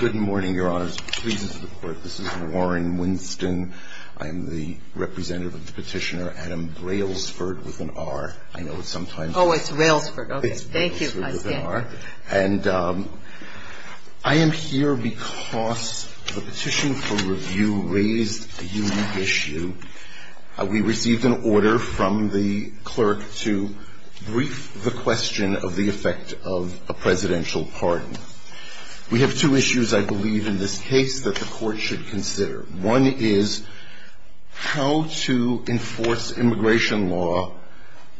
Good morning, Your Honors. This is Warren Winston. I am the representative of the petitioner, Adam Railsford, with an R. I know it's sometimes Oh, it's Railsford. Okay. Thank you. I stand by it. And I am here because the petition for review raised a unique issue. We received an order from the clerk to brief the question of the effect of a presidential pardon. We have two issues, I believe, in this case that the court should consider. One is how to enforce immigration law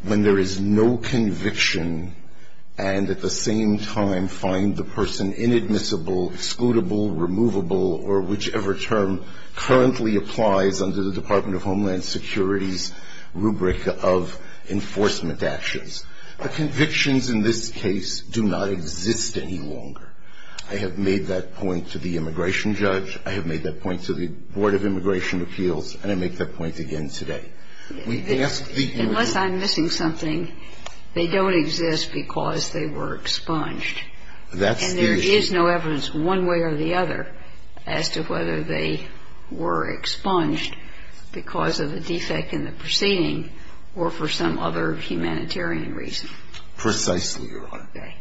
when there is no conviction and, at the same time, find the person inadmissible, excludable, removable, or whichever term currently applies under the Department of Homeland Security's rubric of enforcement actions. The convictions in this case do not exist any longer. I have made that point to the immigration judge. I have made that point to the Board of Immigration Appeals. And I make that point again today. Unless I'm missing something, they don't exist because they were expunged. That's the issue. I mean, the reason it's not in my region. Precisely, Your Honor. Okay.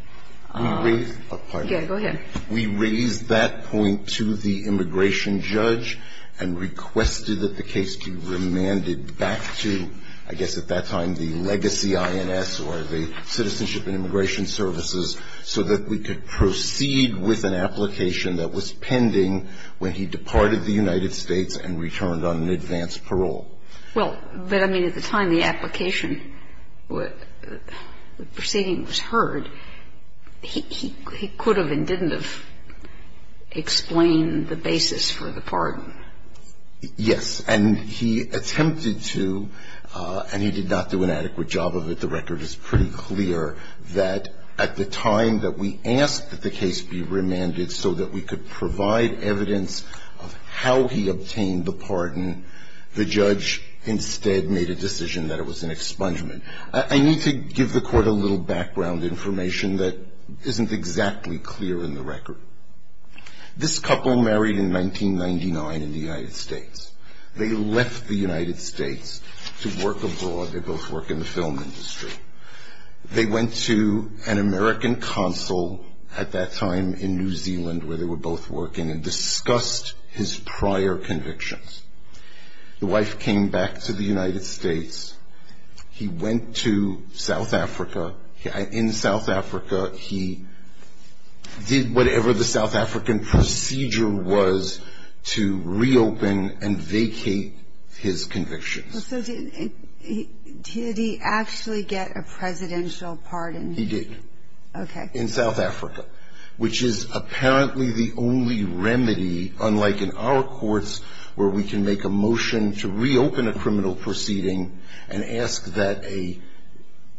Let me read it. Okay. Go ahead. We raised that point to the immigration judge and requested that the case be remanded back to I guess at that time the legacy INS or the Citizenship and Immigration Services so that we could proceed with an application that was pending when he departed the United States and returned on an advance parole. Well, but I mean, at the time the application, the proceeding was heard, he could have and didn't have explained the basis for the pardon. Yes. And he attempted to, and he did not do an adequate job of it. The record is pretty clear that at the time that we asked that the case be remanded so that we could provide evidence of how he obtained the pardon, the judge instead made a decision that it was an expungement. I need to give the court a little background information that isn't exactly clear in the record. This couple married in 1999 in the United States. They left the United States to work abroad. They both work in the film industry. They went to an American consul at that time in New Zealand where they were both working and discussed his prior convictions. The wife came back to the United States. He went to South Africa. In South Africa, he did whatever the South African procedure was to reopen and vacate his convictions. So did he actually get a presidential pardon? He did. Okay. In South Africa, which is apparently the only remedy, unlike in our courts where we can make a motion to reopen a criminal proceeding and ask that a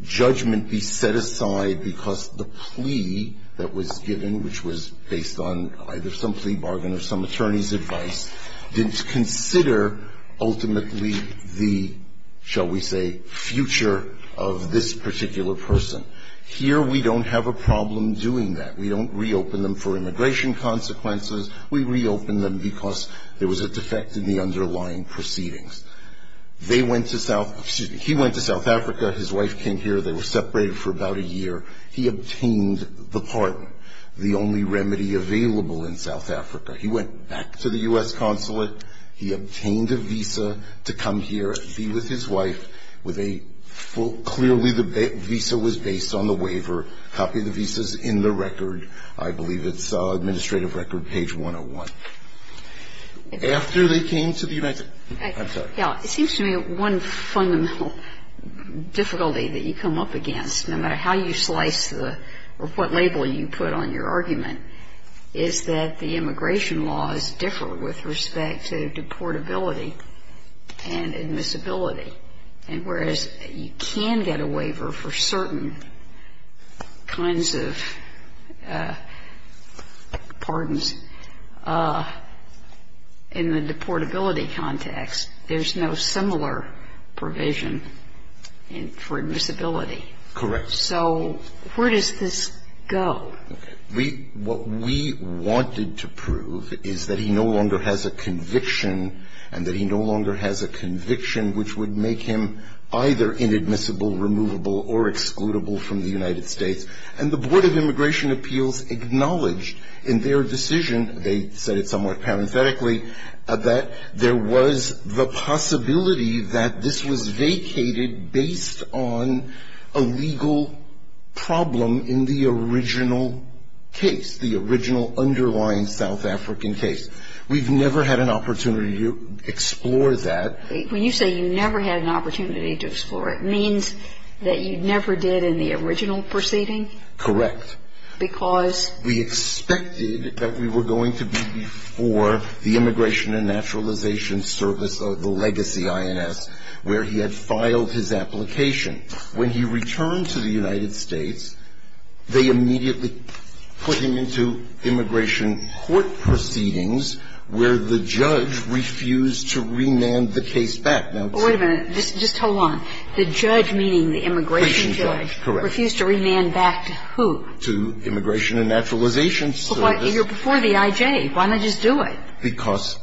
judgment be set aside because the plea that was given, which was based on either some plea bargain or some attorney's advice, didn't consider ultimately the, shall we say, future of this particular person. Here we don't have a problem doing that. We don't reopen them for immigration consequences. We reopen them because there was a defect in the underlying proceedings. They went to South, excuse me, he went to South Africa. His wife came here. They were separated for about a year. He obtained the pardon, the only remedy available in South Africa. He went back to the U.S. consulate. He obtained a visa to come here and be with his wife with a, clearly the visa was based on the waiver. Copy the visas in the record. I believe it's administrative record page 101. After they came to the United, I'm sorry. It seems to me one fundamental difficulty that you come up against, no matter how you slice the, or what label you put on your argument, is that the immigration laws differ with respect to deportability and admissibility. And whereas you can get a waiver for certain kinds of pardons, in the deportability context, there's no similar provision for admissibility. Correct. So where does this go? We, what we wanted to prove is that he no longer has a conviction and that he no longer has a conviction which would make him either inadmissible, removable, or excludable from the United States. And the Board of Immigration Appeals acknowledged in their decision, they said it somewhat parenthetically, that there was the possibility that this was vacated based on a legal problem in the original case, the original underlying South African case. We've never had an opportunity to explore that. When you say you never had an opportunity to explore it, it means that you never did in the original proceeding? Correct. Because? Because we expected that we were going to be before the Immigration and Naturalization Service, the legacy INS, where he had filed his application. When he returned to the United States, they immediately put him into immigration court proceedings where the judge refused to remand the case back. Now, to the immigration judge. Wait a minute. Just hold on. The judge, meaning the immigration judge, refused to remand back to who? To Immigration and Naturalization Service. But you're before the I.J. Why not just do it? Because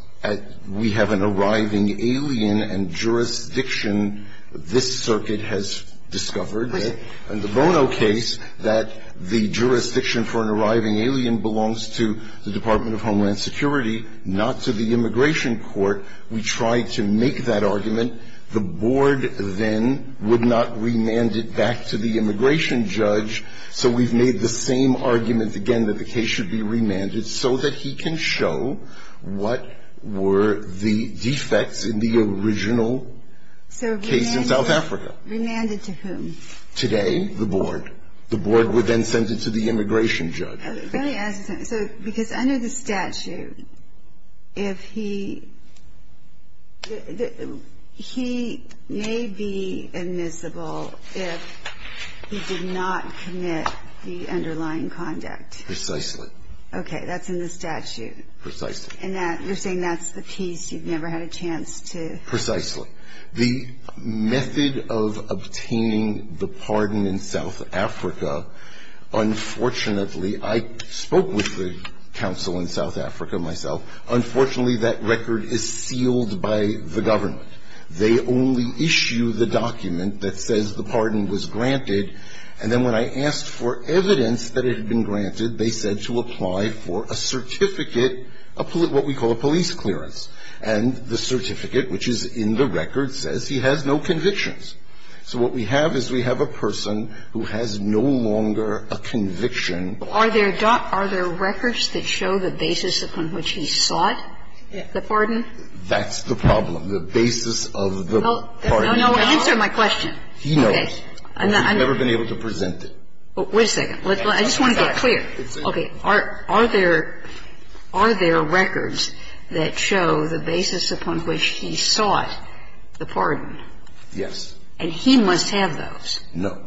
we have an arriving alien and jurisdiction, this circuit has discovered that the Bono case, that the jurisdiction for an arriving alien belongs to the Department of Homeland Security, not to the immigration court. We tried to make that argument. The board then would not remand it back to the immigration judge. So we've made the same argument again that the case should be remanded so that he can show what were the defects in the original case in South Africa. So remanded to whom? Today, the board. The board would then send it to the immigration judge. Let me ask you something. So because under the statute, if he he may be admissible if he did not commit the underlying conduct. Precisely. Okay. That's in the statute. Precisely. And that you're saying that's the piece you've never had a chance to. Precisely. The method of obtaining the pardon in South Africa, unfortunately, I spoke with the counsel in South Africa myself. Unfortunately, that record is sealed by the government. They only issue the document that says the pardon was granted. And then when I asked for evidence that it had been granted, they said to apply for a certificate, what we call a police clearance. And the certificate, which is in the record, says he has no convictions. So what we have is we have a person who has no longer a conviction. Are there records that show the basis upon which he sought the pardon? That's the problem. The basis of the pardon. Answer my question. He knows. I've never been able to present it. Wait a second. I just want to get clear. Okay. Are there records that show the basis upon which he sought the pardon? Yes. And he must have those? No.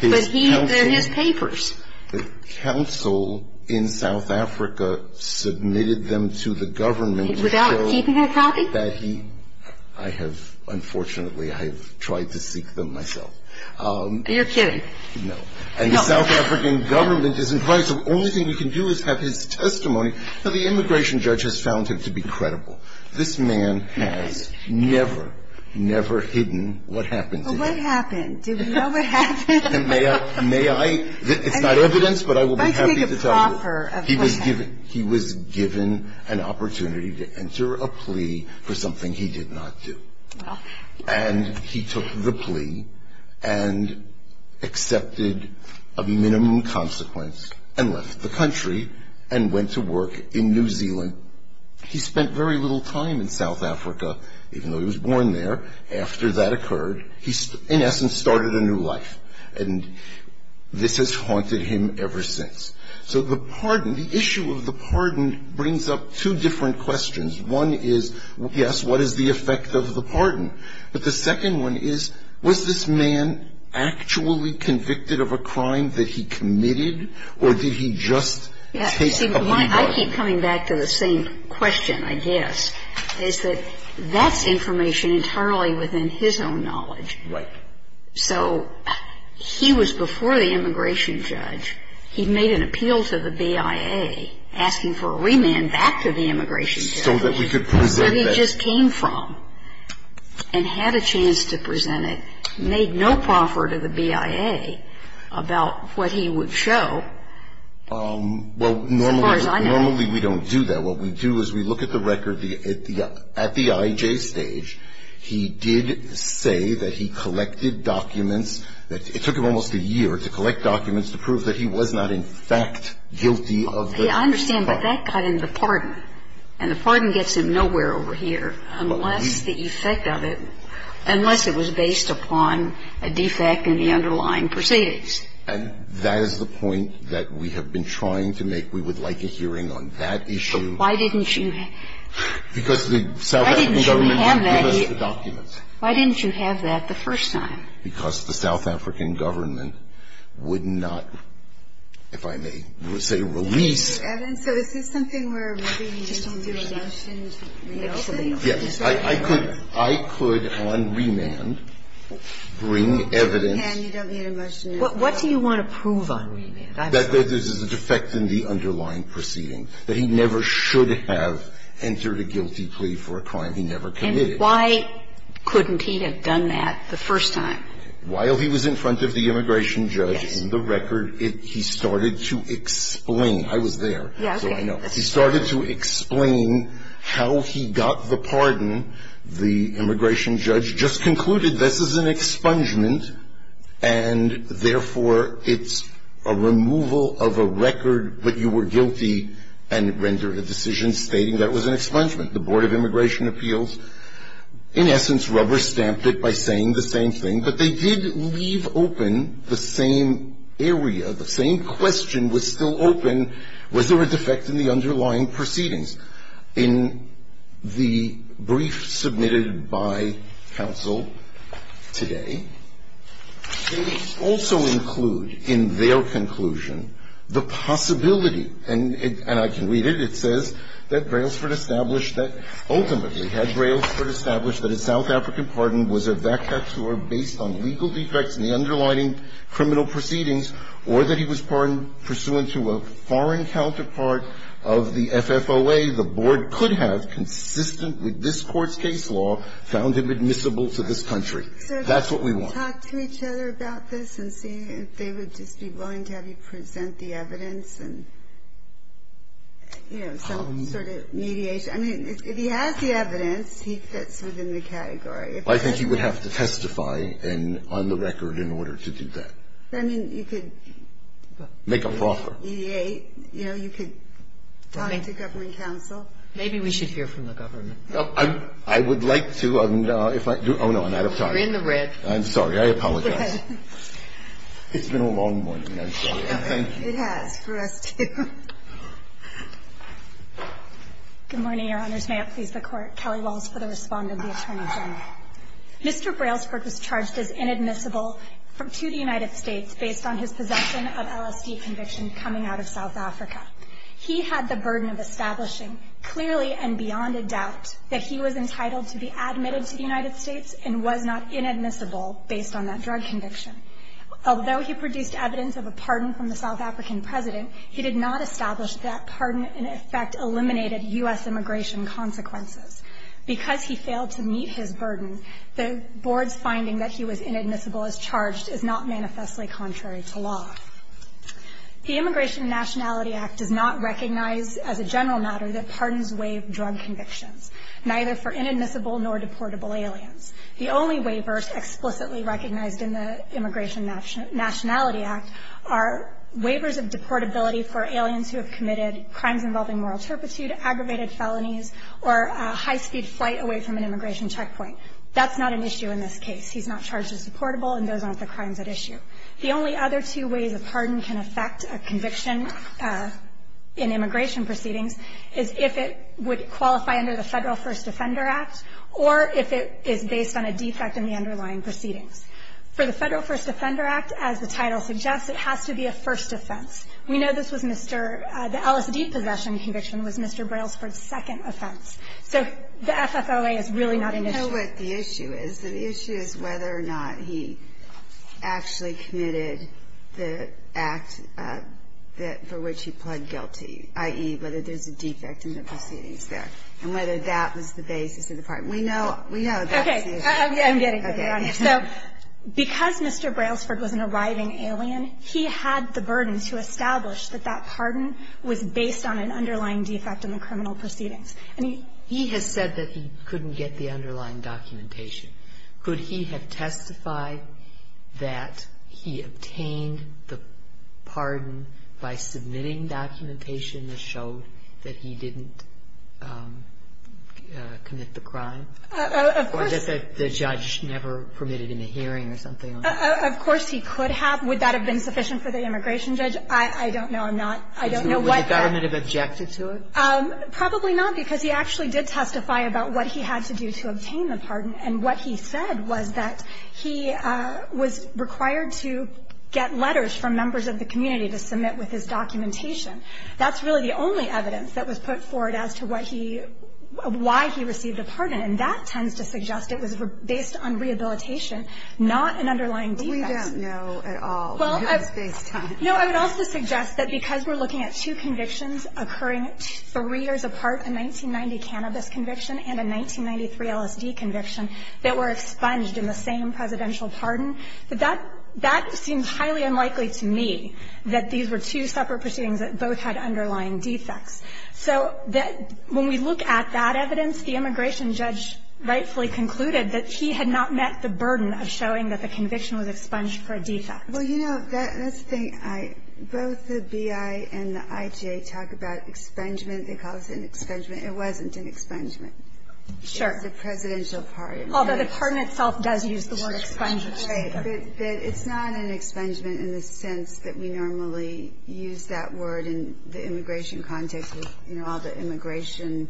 But they're his papers. The counsel in South Africa submitted them to the government. Without keeping a copy? That he, I have, unfortunately, I have tried to seek them myself. You're kidding. No. And the South African government is advised, the only thing we can do is have his testimony. But the immigration judge has found him to be credible. This man has never, never hidden what happened to him. Well, what happened? Do we know what happened? May I, it's not evidence, but I will be happy to tell you. He was given an opportunity to enter a plea for something he did not do. And he took the plea and accepted a minimum consequence and left the country and went to work in New Zealand. He spent very little time in South Africa, even though he was born there. After that occurred, he, in essence, started a new life. And this has haunted him ever since. So the pardon, the issue of the pardon brings up two different questions. One is, yes, what is the effect of the pardon? But the second one is, was this man actually convicted of a crime that he committed? Or did he just take a remand? I keep coming back to the same question, I guess, is that that's information internally within his own knowledge. Right. So he was before the immigration judge. He made an appeal to the BIA asking for a remand back to the immigration judge. So that we could present that. Where he just came from and had a chance to present it, made no proffer to the BIA about what he would show. Well, normally we don't do that. What we do is we look at the record at the IJ stage. He did say that he collected documents. It took him almost a year to collect documents to prove that he was not in fact guilty of the crime. I understand, but that got him the pardon. And the pardon gets him nowhere over here unless the effect of it, unless it was based upon a defect in the underlying proceedings. And that is the point that we have been trying to make. We would like a hearing on that issue. But why didn't you have that? Because the South African government would give us the documents. Why didn't you have that the first time? Because the South African government would not, if I may say, release. So is this something where we're doing judicial revisions? Yes. I could on remand bring evidence. What do you want to prove on remand? That there's a defect in the underlying proceeding. That he never should have entered a guilty plea for a crime he never committed. Why couldn't he have done that the first time? While he was in front of the immigration judge, in the record, he started to explain. I was there, so I know. He started to explain how he got the pardon. The immigration judge just concluded, this is an expungement, and therefore it's a removal of a record that you were guilty and rendered a decision stating that was an expungement. The Board of Immigration Appeals, in essence, rubber-stamped it by saying the same thing. But they did leave open the same area, the same question was still open. Was there a defect in the underlying proceedings? In the brief submitted by counsel today, they also include in their conclusion the possibility, and I can read it, it says that Brailsford established that ultimately had Brailsford established that a South African pardon was a vacatur based on legal defects in the underlying criminal proceedings or that he was pardoned pursuant to a foreign counterpart of the FFOA, the Board could have, consistent with this Court's case law, found him admissible to this country. That's what we want. Ginsburg-McGillivray-Miller, I think you would have to testify on the record in order to do that. I mean, you could make a proffer. You know, you could talk to government counsel. Maybe we should hear from the government. I would like to. Oh, no, I'm out of time. You're in the red. I'm sorry, I apologize. It's been a long morning, I'm sorry, and thank you. It has for us, too. Good morning, Your Honors. May it please the Court. Kelly Walsh for the respondent, the Attorney General. Mr. Brailsford was charged as inadmissible to the United States based on his possession of LSE conviction coming out of South Africa. He had the burden of establishing clearly and beyond a doubt that he was entitled to be admitted to the United States and was not inadmissible based on that drug conviction. Although he produced evidence of a pardon from the South African president, he did not establish that pardon in effect eliminated U.S. immigration consequences. Because he failed to meet his burden, the Board's finding that he was inadmissible as charged is not manifestly contrary to law. The Immigration and Nationality Act does not recognize as a general matter that pardons waive drug convictions. Neither for inadmissible nor deportable aliens. The only waivers explicitly recognized in the Immigration and Nationality Act are waivers of deportability for aliens who have committed crimes involving moral turpitude, aggravated felonies, or high-speed flight away from an immigration checkpoint. That's not an issue in this case. He's not charged as deportable, and those aren't the crimes at issue. The only other two ways a pardon can affect a conviction in immigration proceedings is if it would qualify under the Federal First Offender Act or if it is based on a defect in the underlying proceedings. For the Federal First Offender Act, as the title suggests, it has to be a first offense. We know this was Mr. — the LSD possession conviction was Mr. Brailsford's second offense. So the FFOA is really not an issue. Ginsburg. But the issue is, the issue is whether or not he actually committed the act for which he pled guilty, i.e., whether there's a defect in the proceedings there, and whether that was the basis of the pardon. We know that's the issue. Okay. I'm getting there, Your Honor. So because Mr. Brailsford was an arriving alien, he had the burden to establish that that pardon was based on an underlying defect in the criminal proceedings. And he — He has said that he couldn't get the underlying documentation. Could he have testified that he obtained the pardon by submitting the document to the immigration judge? And he didn't have to be able to get the documentation or the documentation that showed that he didn't commit the crime? Of course. Or that the judge never permitted him a hearing or something? Of course, he could have. Would that have been sufficient for the immigration judge? I don't know. I'm not — I don't know what that — Would the government have objected to it? Probably not, because he actually did testify about what he had to do to obtain the pardon. And what he said was that he was required to get letters from members of the community to submit with his documentation. That's really the only evidence that was put forward as to what he — why he received a pardon. And that tends to suggest it was based on rehabilitation, not an underlying defect. We don't know at all. Well, I would also suggest that because we're looking at two convictions occurring three years apart — a 1990 cannabis conviction and a 1993 LSD conviction — that were expunged in the same presidential pardon, that that seems highly unlikely to me that these were two separate proceedings that both had underlying defects. So that — when we look at that evidence, the immigration judge rightfully concluded that he had not met the burden of showing that the conviction was expunged for a defect. Well, you know, that's the thing. I — both the B.I. and the I.G.A. talk about expungement. They call this an expungement. It wasn't an expungement. Sure. It was a presidential pardon. Although the pardon itself does use the word expungement. Right. But it's not an expungement in the sense that we normally use that word in the immigration context with, you know, all the immigration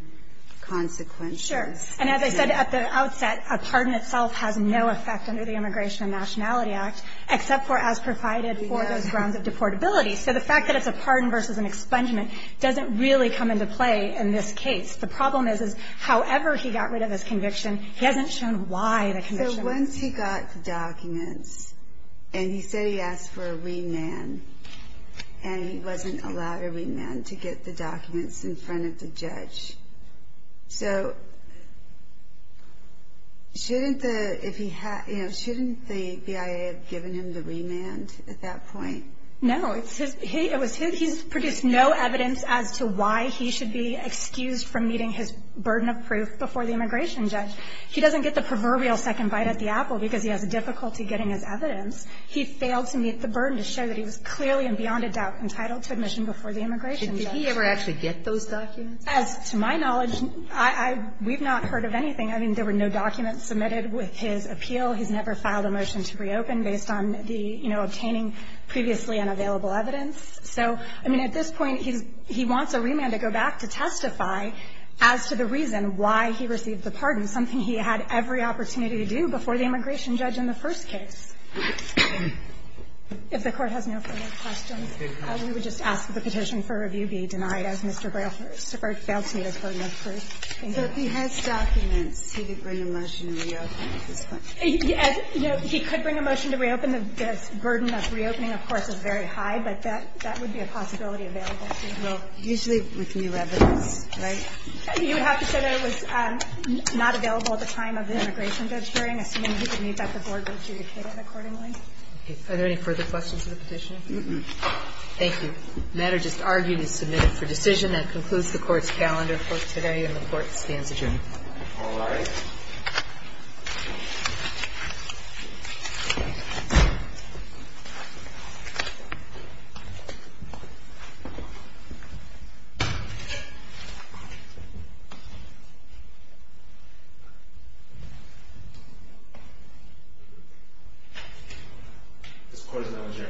consequences. Sure. And as I said at the outset, a pardon itself has no effect under the Immigration and Nationality Act, except for as provided for those grounds of deportability. So the fact that it's a pardon versus an expungement doesn't really come into play in this case. The problem is, is however he got rid of his conviction, he hasn't shown why the conviction was expunged. So once he got the documents, and he said he asked for a remand, and he wasn't allowed a remand to get the documents in front of the judge, so shouldn't the — if he had — you know, shouldn't the B.I.A. have given him the remand at that point? No. It's his — it was his — he's produced no evidence as to why he should be excused from meeting his burden of proof before the immigration judge. He doesn't get the proverbial second bite at the apple because he has difficulty getting his evidence. He failed to meet the burden to show that he was clearly and beyond a doubt entitled to admission before the immigration judge. Did he ever actually get those documents? As to my knowledge, I — we've not heard of anything. I mean, there were no documents submitted with his appeal. He's never filed a motion to reopen based on the — you know, obtaining previously unavailable evidence. So, I mean, at this point, he's — he wants a remand to go back to testify as to the reason why he received the pardon, something he had every opportunity to do before the immigration judge in the first case. If the Court has no further questions, we would just ask that the petition for review be denied, as Mr. Braille failed to meet his burden of proof. So if he has documents, he could bring a motion to reopen at this point? You know, he could bring a motion to reopen. The burden of reopening, of course, is very high, but that — that would be a possibility available, too. Well, usually with new evidence, right? You would have to say that it was not available at the time of the immigration judge hearing, assuming he could meet that the board would adjudicate it accordingly. Are there any further questions to the petition? Thank you. The matter just argued is submitted for decision. That concludes the Court's calendar for today, and the Court stands adjourned. All rise. This Court is now adjourned. Thank you.